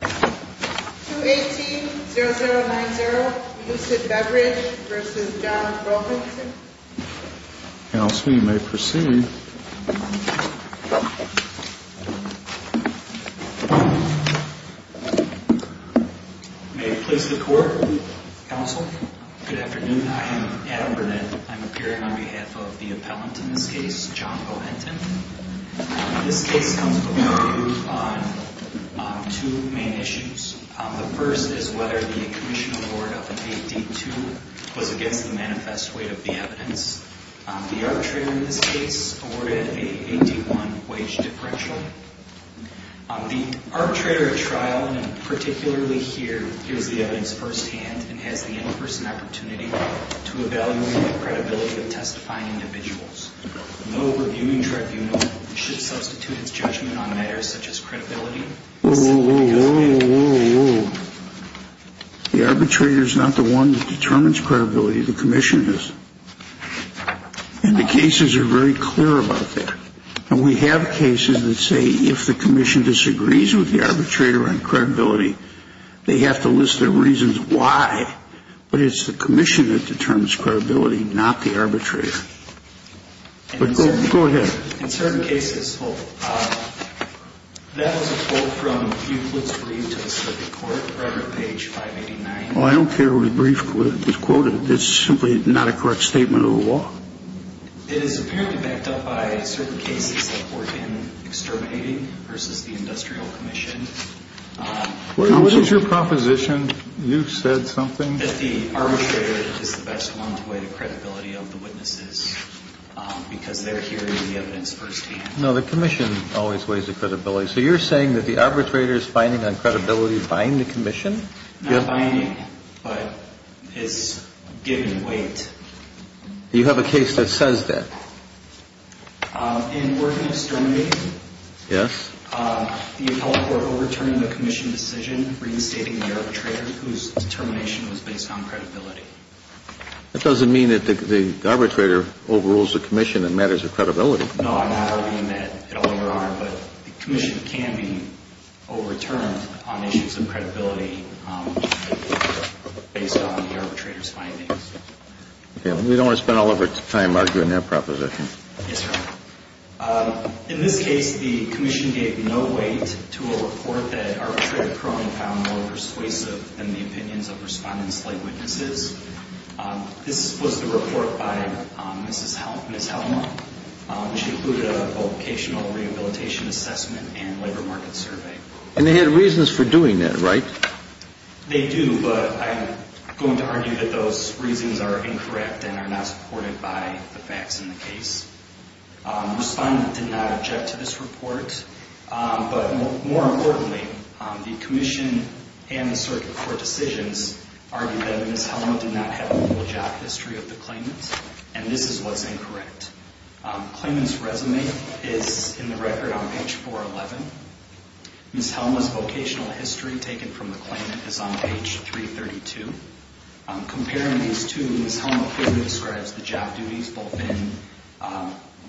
218-0090 Euclid Beverage v. John Rowenton May it please the Court, Counsel? Good afternoon, I am Adam Burnett. I'm appearing on behalf of the appellant in this case, John Rowenton. This case comes before you on two main issues. The first is whether the commission award of an AD2 was against the manifest weight of the evidence. The arbitrator in this case awarded an AD1 wage differential. The arbitrator at trial, and particularly here, hears the evidence firsthand and has the in-person opportunity to evaluate the credibility of testifying individuals. No reviewing tribunal should substitute its judgment on matters such as credibility. Whoa, whoa, whoa, whoa, whoa, whoa. The arbitrator is not the one that determines credibility, the commission is. And the cases are very clear about that. And we have cases that say if the commission disagrees with the arbitrator on credibility, they have to list their reasons why. But it's the commission that determines credibility, not the arbitrator. But go ahead. In certain cases, that was a quote from Euclid's brief to the Supreme Court, right on page 589. Well, I don't care what brief was quoted. It's simply not a correct statement of the law. It is apparently backed up by certain cases that were in exterminating versus the industrial commission. What is your proposition? You said something. That the arbitrator is the best one to weigh the credibility of the witnesses because they're hearing the evidence firsthand. No, the commission always weighs the credibility. So you're saying that the arbitrator is binding on credibility, buying the commission? Not buying, but it's giving weight. You have a case that says that. In working exterminating? Yes. The appellate court overturned the commission decision reinstating the arbitrator whose determination was based on credibility. That doesn't mean that the arbitrator overrules the commission that matters with credibility. No, I'm not arguing that at all, Your Honor. But the commission can be overturned on issues of credibility based on the arbitrator's findings. We don't want to spend all of our time arguing that proposition. Yes, Your Honor. In this case, the commission gave no weight to a report that our appellate court found more persuasive than the opinions of respondents like witnesses. This was the report by Ms. Helmer, which included a vocational rehabilitation assessment and labor market survey. And they had reasons for doing that, right? They do, but I'm going to argue that those reasons are incorrect and are not supported by the facts in the case. Respondent did not object to this report. But more importantly, the commission and the circuit court decisions argue that Ms. Helmer did not have a full job history of the claimant, and this is what's incorrect. Claimant's resume is in the record on page 411. Ms. Helmer's vocational history taken from the claimant is on page 332. Comparing these two, Ms. Helmer clearly describes the job duties both in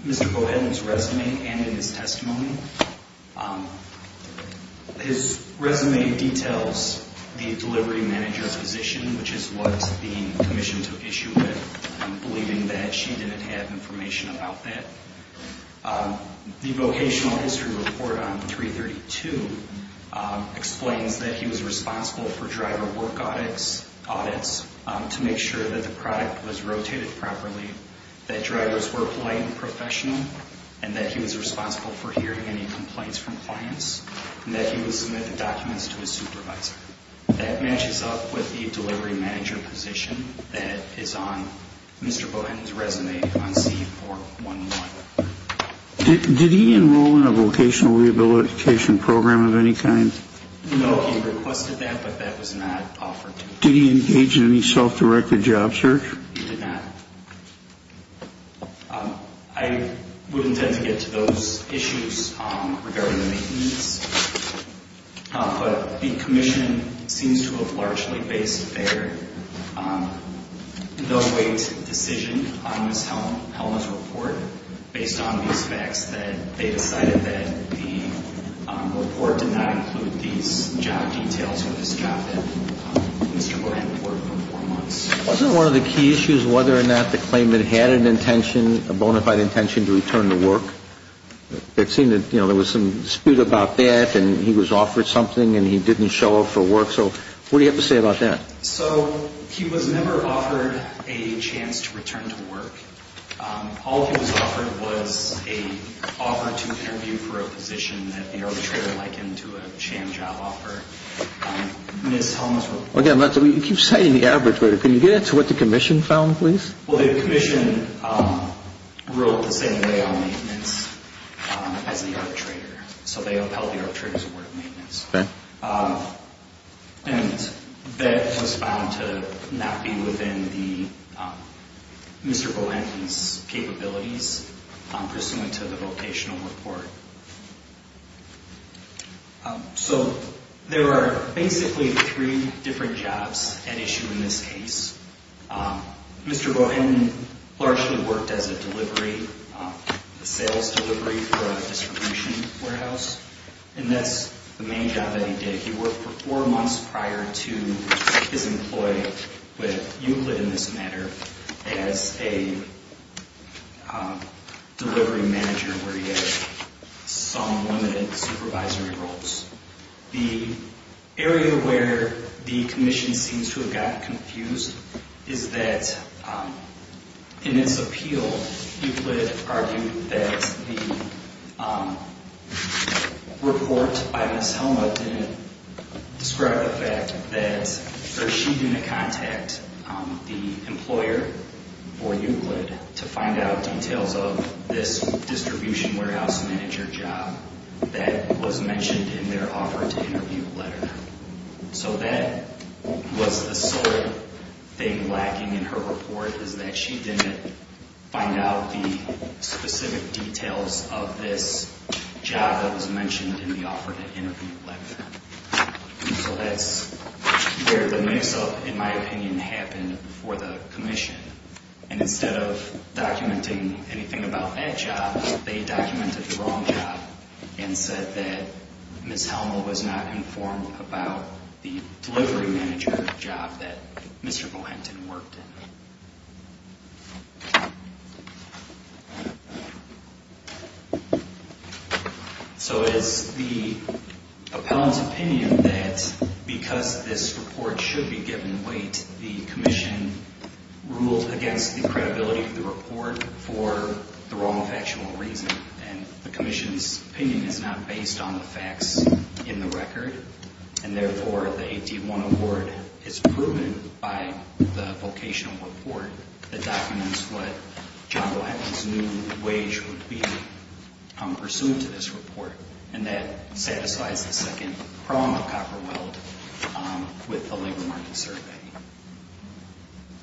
Mr. Bowhead's resume and in his testimony. His resume details the delivery manager's position, which is what the commission took issue with, believing that she didn't have information about that. The vocational history report on 332 explains that he was responsible for driver work audits to make sure that the product was rotated properly, that drivers were polite and professional, and that he was responsible for hearing any complaints from clients, and that he would submit the documents to his supervisor. That matches up with the delivery manager position that is on Mr. Bowhead's resume on C411. Did he enroll in a vocational rehabilitation program of any kind? No, he requested that, but that was not offered to him. Did he engage in any self-directed job search? He did not. I would intend to get to those issues regarding the maintenance, but the commission seems to have largely based their no-weight decision on Ms. Helmer's report based on these facts that they decided that the report did not include these job details or this job that Mr. Bowhead reported for four months. Wasn't one of the key issues whether or not the claimant had an intention, a bona fide intention to return to work? It seemed that, you know, there was some dispute about that, and he was offered something, and he didn't show up for work. So what do you have to say about that? So he was never offered a chance to return to work. All he was offered was an offer to interview for a position that the arbitrator likened to a sham job offer. Ms. Helmer's report... Again, you keep citing the arbitrator. Can you get into what the commission found, please? Well, the commission ruled the same way on maintenance as the arbitrator. So they upheld the arbitrator's award of maintenance. And that was found to not be within Mr. Bowhead's capabilities pursuant to the vocational report. So there are basically three different jobs at issue in this case. Mr. Bowhead largely worked as a delivery, a sales delivery for a distribution warehouse. And that's the main job that he did. He worked for four months prior to his employment with Euclid in this matter as a delivery manager where he had some limited supervisory roles. The area where the commission seems to have gotten confused is that in its appeal, Euclid argued that the report by Ms. Helmer didn't describe the fact that she didn't contact the employer or Euclid to find out details of this distribution warehouse manager job that was mentioned in their offer to interview letter. So that was the sole thing lacking in her report is that she didn't find out the specific details of this job that was mentioned in the offer to interview letter. So that's where the mix-up, in my opinion, happened for the commission. And instead of documenting anything about that job, they documented the wrong job and said that Ms. Helmer was not informed about the delivery manager job that Mr. Bowhead worked in. So it's the appellant's opinion that because this report should be given weight, the commission ruled against the credibility of the report for the wrong factional reason. And the commission's opinion is not based on the facts in the record. And therefore, the AD-1 award is proven by the vocational report that documents what John Bowhead's new wage would be pursuant to this report, and that satisfies the second prong of Copperweld with the labor market survey.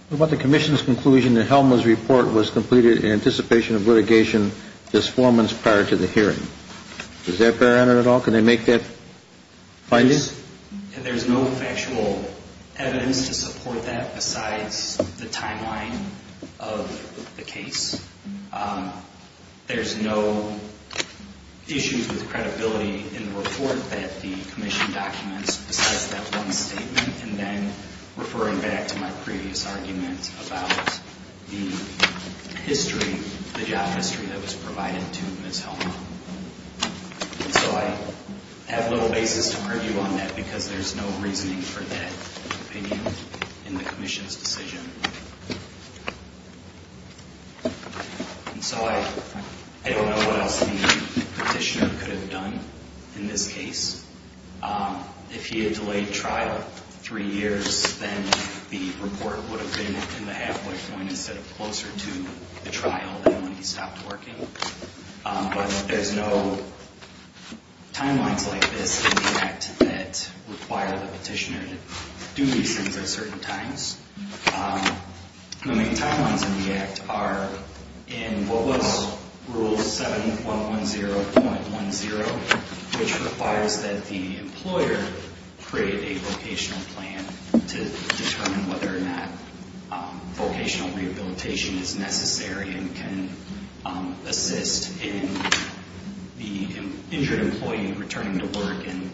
What about the commission's conclusion that Helmer's report was completed in anticipation of litigation disformance prior to the hearing? Does that bear on it at all? Can they make that finding? There's no factual evidence to support that besides the timeline of the case. There's no issues with credibility in the report that the commission documents besides that one statement. And then referring back to my previous argument about the job history that was provided to Ms. Helmer. And so I have little basis to argue on that because there's no reasoning for that opinion in the commission's decision. And so I don't know what else the petitioner could have done in this case. If he had delayed trial three years, then the report would have been in the halfway point instead of closer to the trial than when he stopped working. But there's no timelines like this in the Act that require the petitioner to do these things at certain times. The main timelines in the Act are in what was Rule 7110.10, which requires that the employer create a vocational plan to determine whether or not vocational rehabilitation is necessary and can assist in the injured employee returning to work and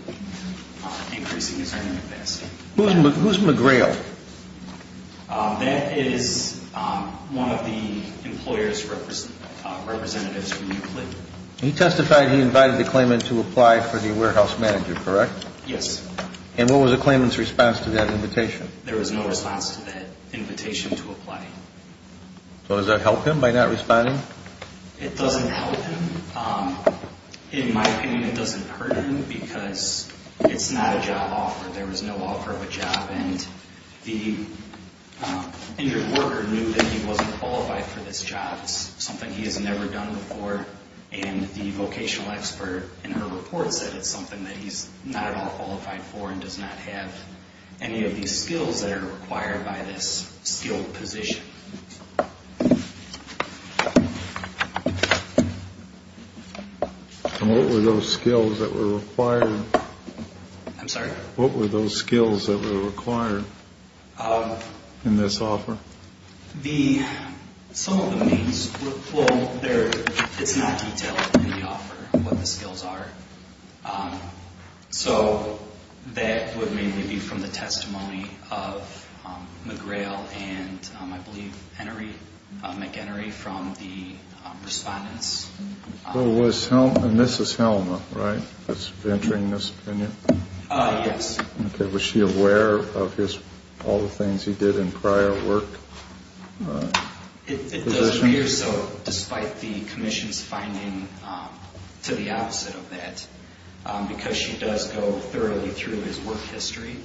increasing his earning capacity. Who's McGrail? That is one of the employer's representatives. He testified he invited the claimant to apply for the warehouse manager, correct? Yes. And what was the claimant's response to that invitation? There was no response to that invitation to apply. So does that help him by not responding? It doesn't help him. In my opinion, it doesn't hurt him because it's not a job offer. There was no offer of a job, and the injured worker knew that he wasn't qualified for this job. It's something he has never done before, and the vocational expert in her report said it's something that he's not at all qualified for and does not have any of these skills that are required by this skilled position. And what were those skills that were required? I'm sorry? What were those skills that were required in this offer? Some of the main skills, well, it's not detailed in the offer what the skills are. So that would mainly be from the testimony of McGrail and, I believe, McEnery from the respondents. And this is Helma, right, that's entering this opinion? Yes. Okay. Was she aware of all the things he did in prior work? It does appear so, despite the commission's finding to the opposite of that, because she does go thoroughly through his work history,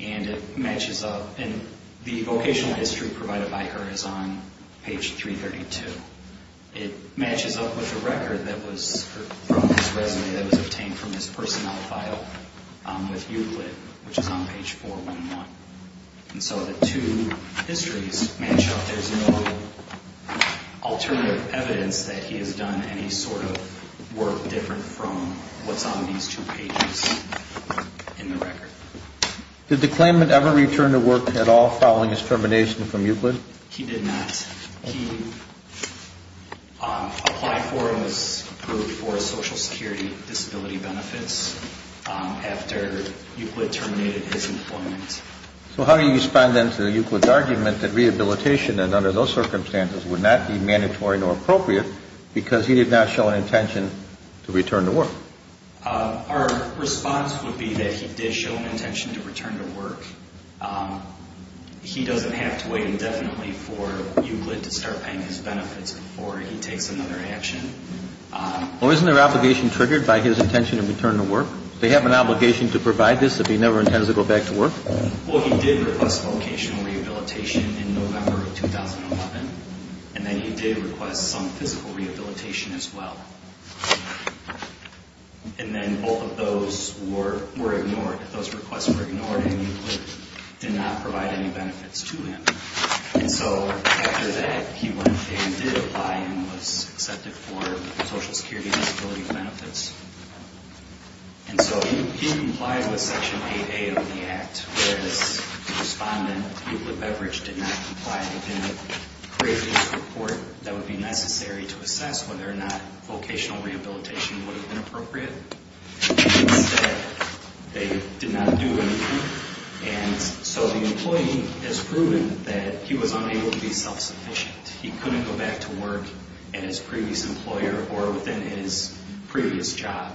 and it matches up. And the vocational history provided by her is on page 332. It matches up with the record that was from his resume that was obtained from his personnel file with Euclid, which is on page 411. And so the two histories match up. There's no alternative evidence that he has done any sort of work different from what's on these two pages in the record. Did the claimant ever return to work at all following his termination from Euclid? He did not. He applied for and was approved for social security disability benefits after Euclid terminated his employment. So how do you respond then to Euclid's argument that rehabilitation, and under those circumstances, would not be mandatory nor appropriate because he did not show an intention to return to work? Our response would be that he did show an intention to return to work. He doesn't have to wait indefinitely for Euclid to start paying his benefits before he takes another action. Well, isn't there an obligation triggered by his intention to return to work? Do they have an obligation to provide this if he never intends to go back to work? Well, he did request vocational rehabilitation in November of 2011, and then he did request some physical rehabilitation as well. And then both of those were ignored. Those requests were ignored, and Euclid did not provide any benefits to him. And so after that, he went and did apply and was accepted for social security disability benefits. And so he complied with Section 8A of the Act, whereas the respondent, Euclid Beveridge, did not comply. They did not create a report that would be necessary to assess whether or not vocational rehabilitation would have been appropriate. Instead, they did not do anything. And so the employee has proven that he was unable to be self-sufficient. He couldn't go back to work in his previous employer or within his previous job.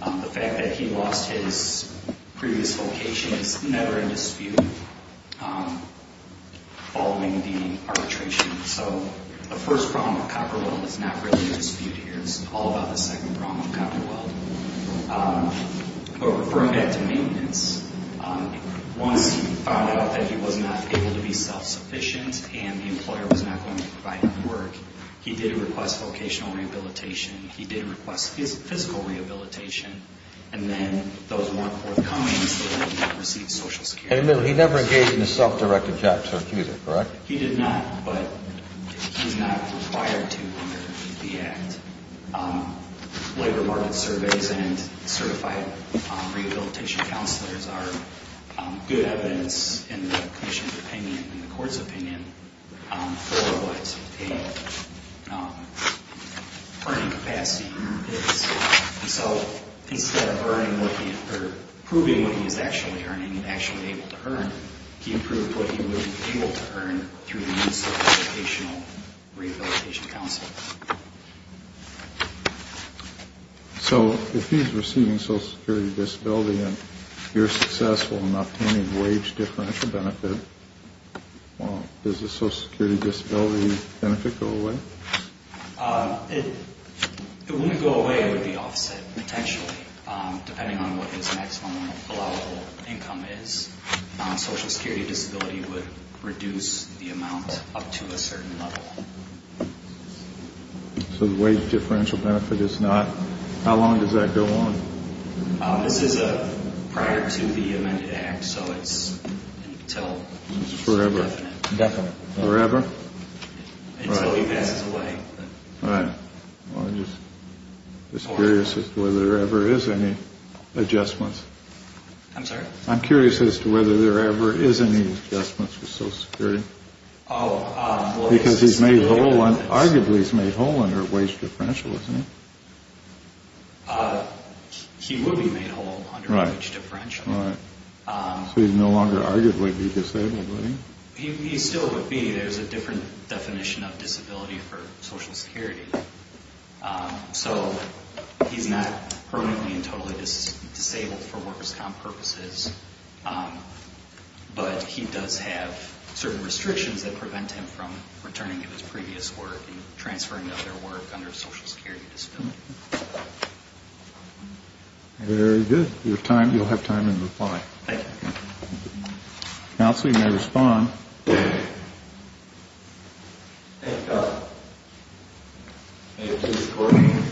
The fact that he lost his previous vocation is never in dispute, following the arbitration. So the first problem with Copperweld is not really in dispute here. It's all about the second problem with Copperweld. But referring back to maintenance, once he found out that he was not able to be self-sufficient and the employer was not going to provide him work, he did request vocational rehabilitation. He did request physical rehabilitation. And then those weren't forthcomings that he received social security benefits. And he never engaged in a self-directed job search either, correct? He did not, but he's not required to under the Act. Labor market surveys and certified rehabilitation counselors are good evidence in the commission's opinion, in the court's opinion, for what a earning capacity is. And so instead of proving what he was actually earning and actually able to earn, he approved what he was able to earn through the use of a vocational rehabilitation counselor. So if he's receiving social security disability and you're successful in obtaining wage differential benefit, does the social security disability benefit go away? It wouldn't go away. It would be offset, potentially, depending on what his maximum allowable income is. Social security disability would reduce the amount up to a certain level. So the wage differential benefit is not? How long does that go on? This is prior to the amended Act, so it's until. Forever. Definitely. Forever? Until he passes away. Right. Well, I'm just curious as to whether there ever is any adjustments. I'm sorry? I'm curious as to whether there ever is any adjustments for social security. Because he's made whole, arguably he's made whole under wage differential, isn't he? He would be made whole under wage differential. Right. So he'd no longer arguably be disabled, would he? He still would be. There's a different definition of disability for social security. So he's not permanently and totally disabled for workers' comp purposes, but he does have certain restrictions that prevent him from returning to his previous work and transferring to other work under social security disability. Very good. You'll have time in reply. Thank you. Counsel, you may respond. Thank you, Governor. Thank you, Mr. Corbyn.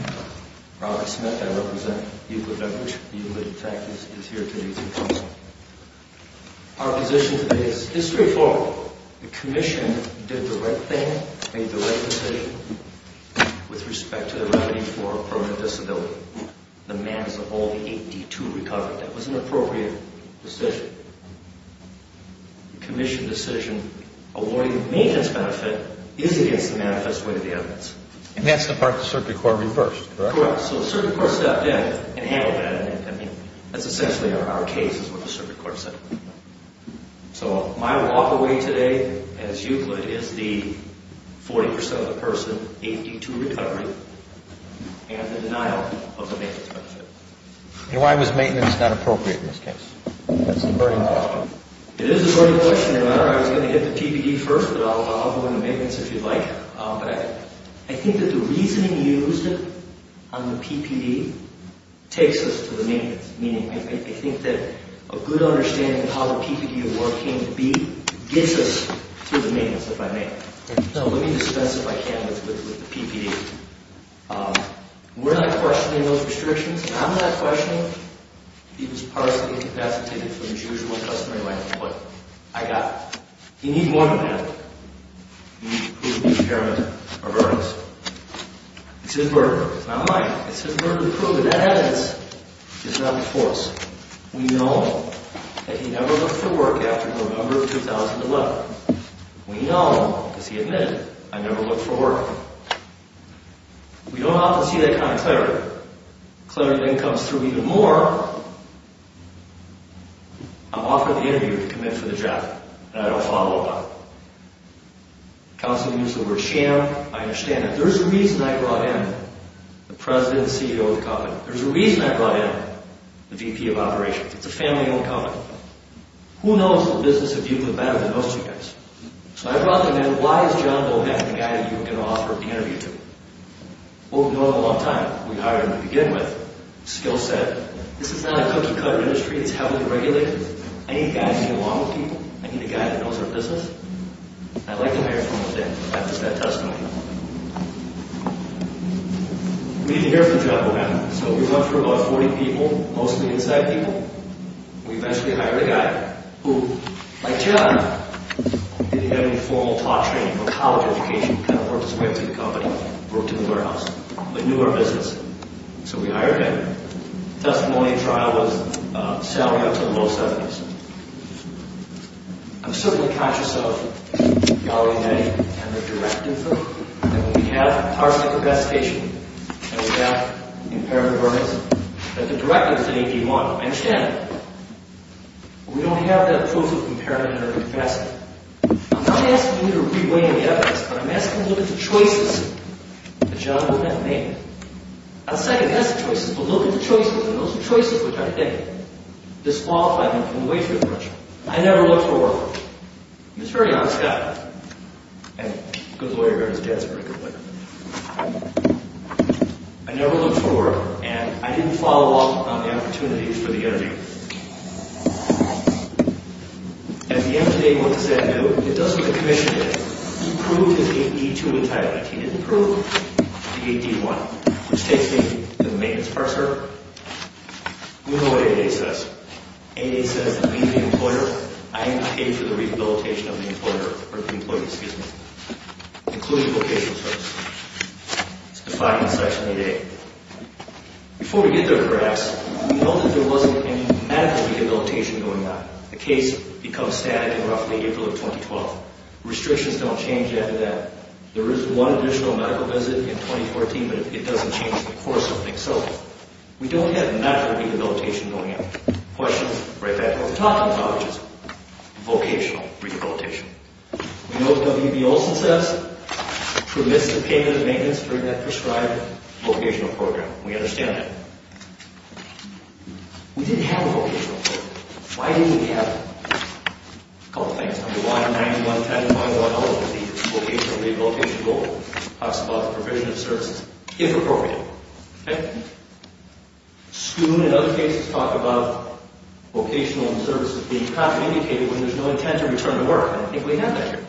Robert Smith. I represent Hewlett-Edwards. Hewlett, in fact, is here today as well. Our position today is history forward. The commission did the right thing, made the right decision with respect to the remedy for a permanent disability. The man is the only 8D2 recovered. That was an appropriate decision. The commission decision awarding the maintenance benefit is against the manifest way of the evidence. And that's the part the Circuit Court reversed, correct? Correct. So the Circuit Court stepped in and handled that. I mean, that's essentially our case is what the Circuit Court said. So my walk away today, as Hewlett, is the 40% of the person 8D2 recovered and the denial of the maintenance benefit. And why was maintenance not appropriate in this case? That's the burning question. It is the burning question. I was going to hit the PPD first, but I'll go into maintenance if you'd like. I think that the reasoning used on the PPD takes us to the maintenance. Meaning, I think that a good understanding of how the PPD award came to be gets us to the maintenance, if I may. So let me dispense, if I can, with the PPD. We're not questioning those restrictions. I'm not questioning if he was partially incapacitated from his usual customary life of what I got. You need more than that. You need to prove the impairment are burdens. It's his burden. It's not mine. It's his burden to prove it. And that evidence is not before us. We know that he never looked for work after November of 2011. We know, because he admitted, I never looked for work. We don't often see that kind of clarity. Clarity then comes through even more. I'm offering the interview to commit for the job, and I don't follow up on it. Counselors use the word sham. I understand that. There's a reason I brought in the president and CEO of the company. There's a reason I brought in the VP of Operations. It's a family-owned company. Who knows the business of you better than most of you guys? So I brought them in. Why is John Bohan the guy that you were going to offer the interview to? Well, we've known him a long time. We hired him to begin with. Skill set. This is not a cookie-cutter industry. It's heavily regulated. I need a guy who can get along with people. I need a guy that knows our business. And I'd like to hear from him today. That was that testimony. We need to hear from John Bohan. So we went through about 40 people, mostly inside people. We eventually hired a guy who, like John, didn't have any formal taught training or college education, kind of worked his way up through the company, worked in the warehouse, but knew our business. So we hired him. Testimony and trial was salary up to the low 70s. I'm certainly conscious of Valerie Day and her directive that when we have our type of investigation and we have impairment awareness, that the directive is an AP model. I understand that. But we don't have that proof of impairment in our investigation. I'm not asking you to re-weigh the evidence, but I'm asking you to look at the choices that John and I have made. I'll say that that's the choices, but look at the choices, and those are choices we're trying to make. Disqualify them from the way they're commercial. I never looked for work. He's a very honest guy. And he goes away and his dad's a pretty good player. I never looked for work, and I didn't follow up on the opportunities for the interview. At the end of the day, what does that do? It does what the commission did. It approved his AP2 entitlement. He didn't approve the AP1, which takes me to the maintenance part, sir. We know what ADA says. ADA says that we, the employer, I am paid for the rehabilitation of the employer, or the employee, excuse me, including vocational services. It's defined in Section 8A. Before we get there, perhaps, we know that there wasn't any medical rehabilitation going on. The case becomes static in roughly April of 2012. Restrictions don't change after that. There is one additional medical visit in 2014, but it doesn't change the course of things. So, we don't have medical rehabilitation going on. Questions? Right back to what we were talking about, which is vocational rehabilitation. We know what WB Olson says. Promiscuous payment of maintenance during that prescribed vocational program. We understand that. We didn't have a vocational program. Why didn't we have it? A couple of things. Number 191, 10.11, the vocational rehabilitation goal, talks about the provision of services, if appropriate. Okay? SCUN in other cases talk about vocational services being communicated when there's no intent to return to work. I don't think we have that here.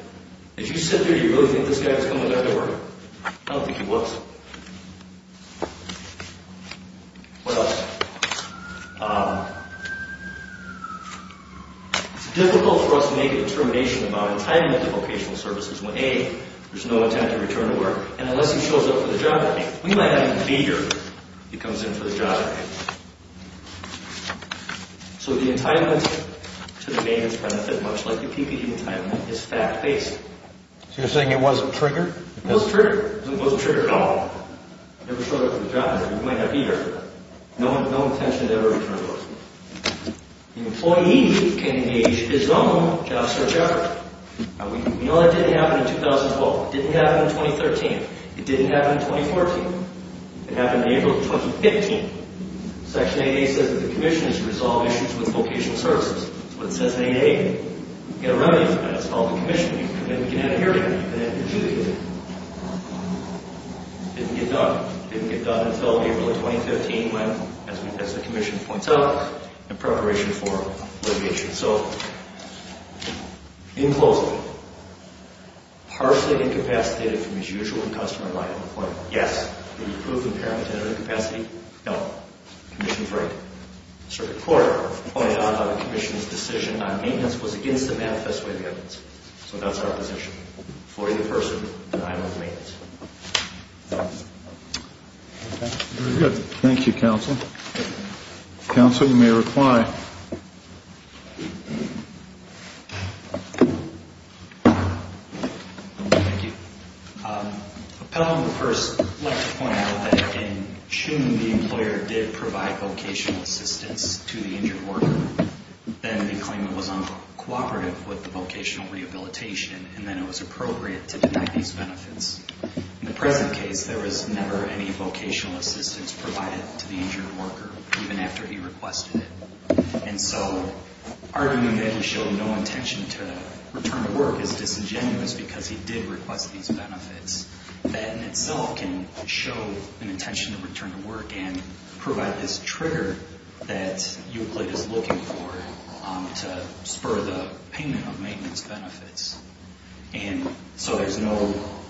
If you sit there, you really think this guy was coming back to work? I don't think he was. What else? It's difficult for us to make a determination about entitlement to vocational services when, A, there's no intent to return to work, and unless he shows up for the job interview, we might not even be here if he comes in for the job interview. So, the entitlement to the maintenance benefit, much like the PPE entitlement, is fact-based. So, you're saying it wasn't triggered? It wasn't triggered. It wasn't triggered at all. Never showed up for the job interview. We might not be here. No intention to ever return to work. The employee can engage his own job search effort. Now, we know that didn't happen in 2012. It didn't happen in 2013. It didn't happen in 2014. It happened in April of 2015. Section 8A says that the Commission is to resolve issues with vocational services. That's what it says in 8A. You get a remedy for that. It's called the Commission. You come in, you get out of here, and then you do the interview. Didn't get done. Didn't get done until April of 2015, when, as the Commission points out, in preparation for litigation. So, in closing, partially incapacitated from his usual and customer-minded employment. Yes. Improved impairment and incapacity. No. Commission Frank, Circuit Court, pointed out how the Commission's decision on maintenance was against the manifest way of evidence. So, that's our position. For the person, denial of maintenance. Very good. Thank you, Counsel. Counsel, you may reply. Thank you. Thank you. Appellant will first like to point out that in June, the employer did provide vocational assistance to the injured worker. Then, they claimed it was uncooperative with the vocational rehabilitation, and then it was appropriate to deny these benefits. In the present case, there was never any vocational assistance provided to the injured worker, even after he requested it. And so, arguing that he showed no intention to return to work is disingenuous because he did request these benefits. That, in itself, can show an intention to return to work and provide this trigger that Euclid is looking for to spur the payment of maintenance benefits. And so, there's no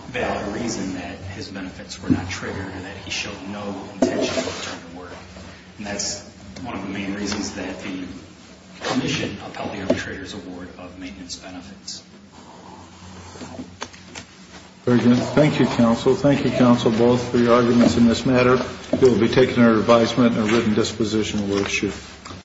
valid reason that his benefits were not triggered and that he showed no intention to return to work. And that's one of the main reasons that the Commission upheld the arbitrator's award of maintenance benefits. Very good. Thank you, Counsel. Thank you, Counsel, both, for your arguments in this matter. We'll be taking our advisement and written disposition with you.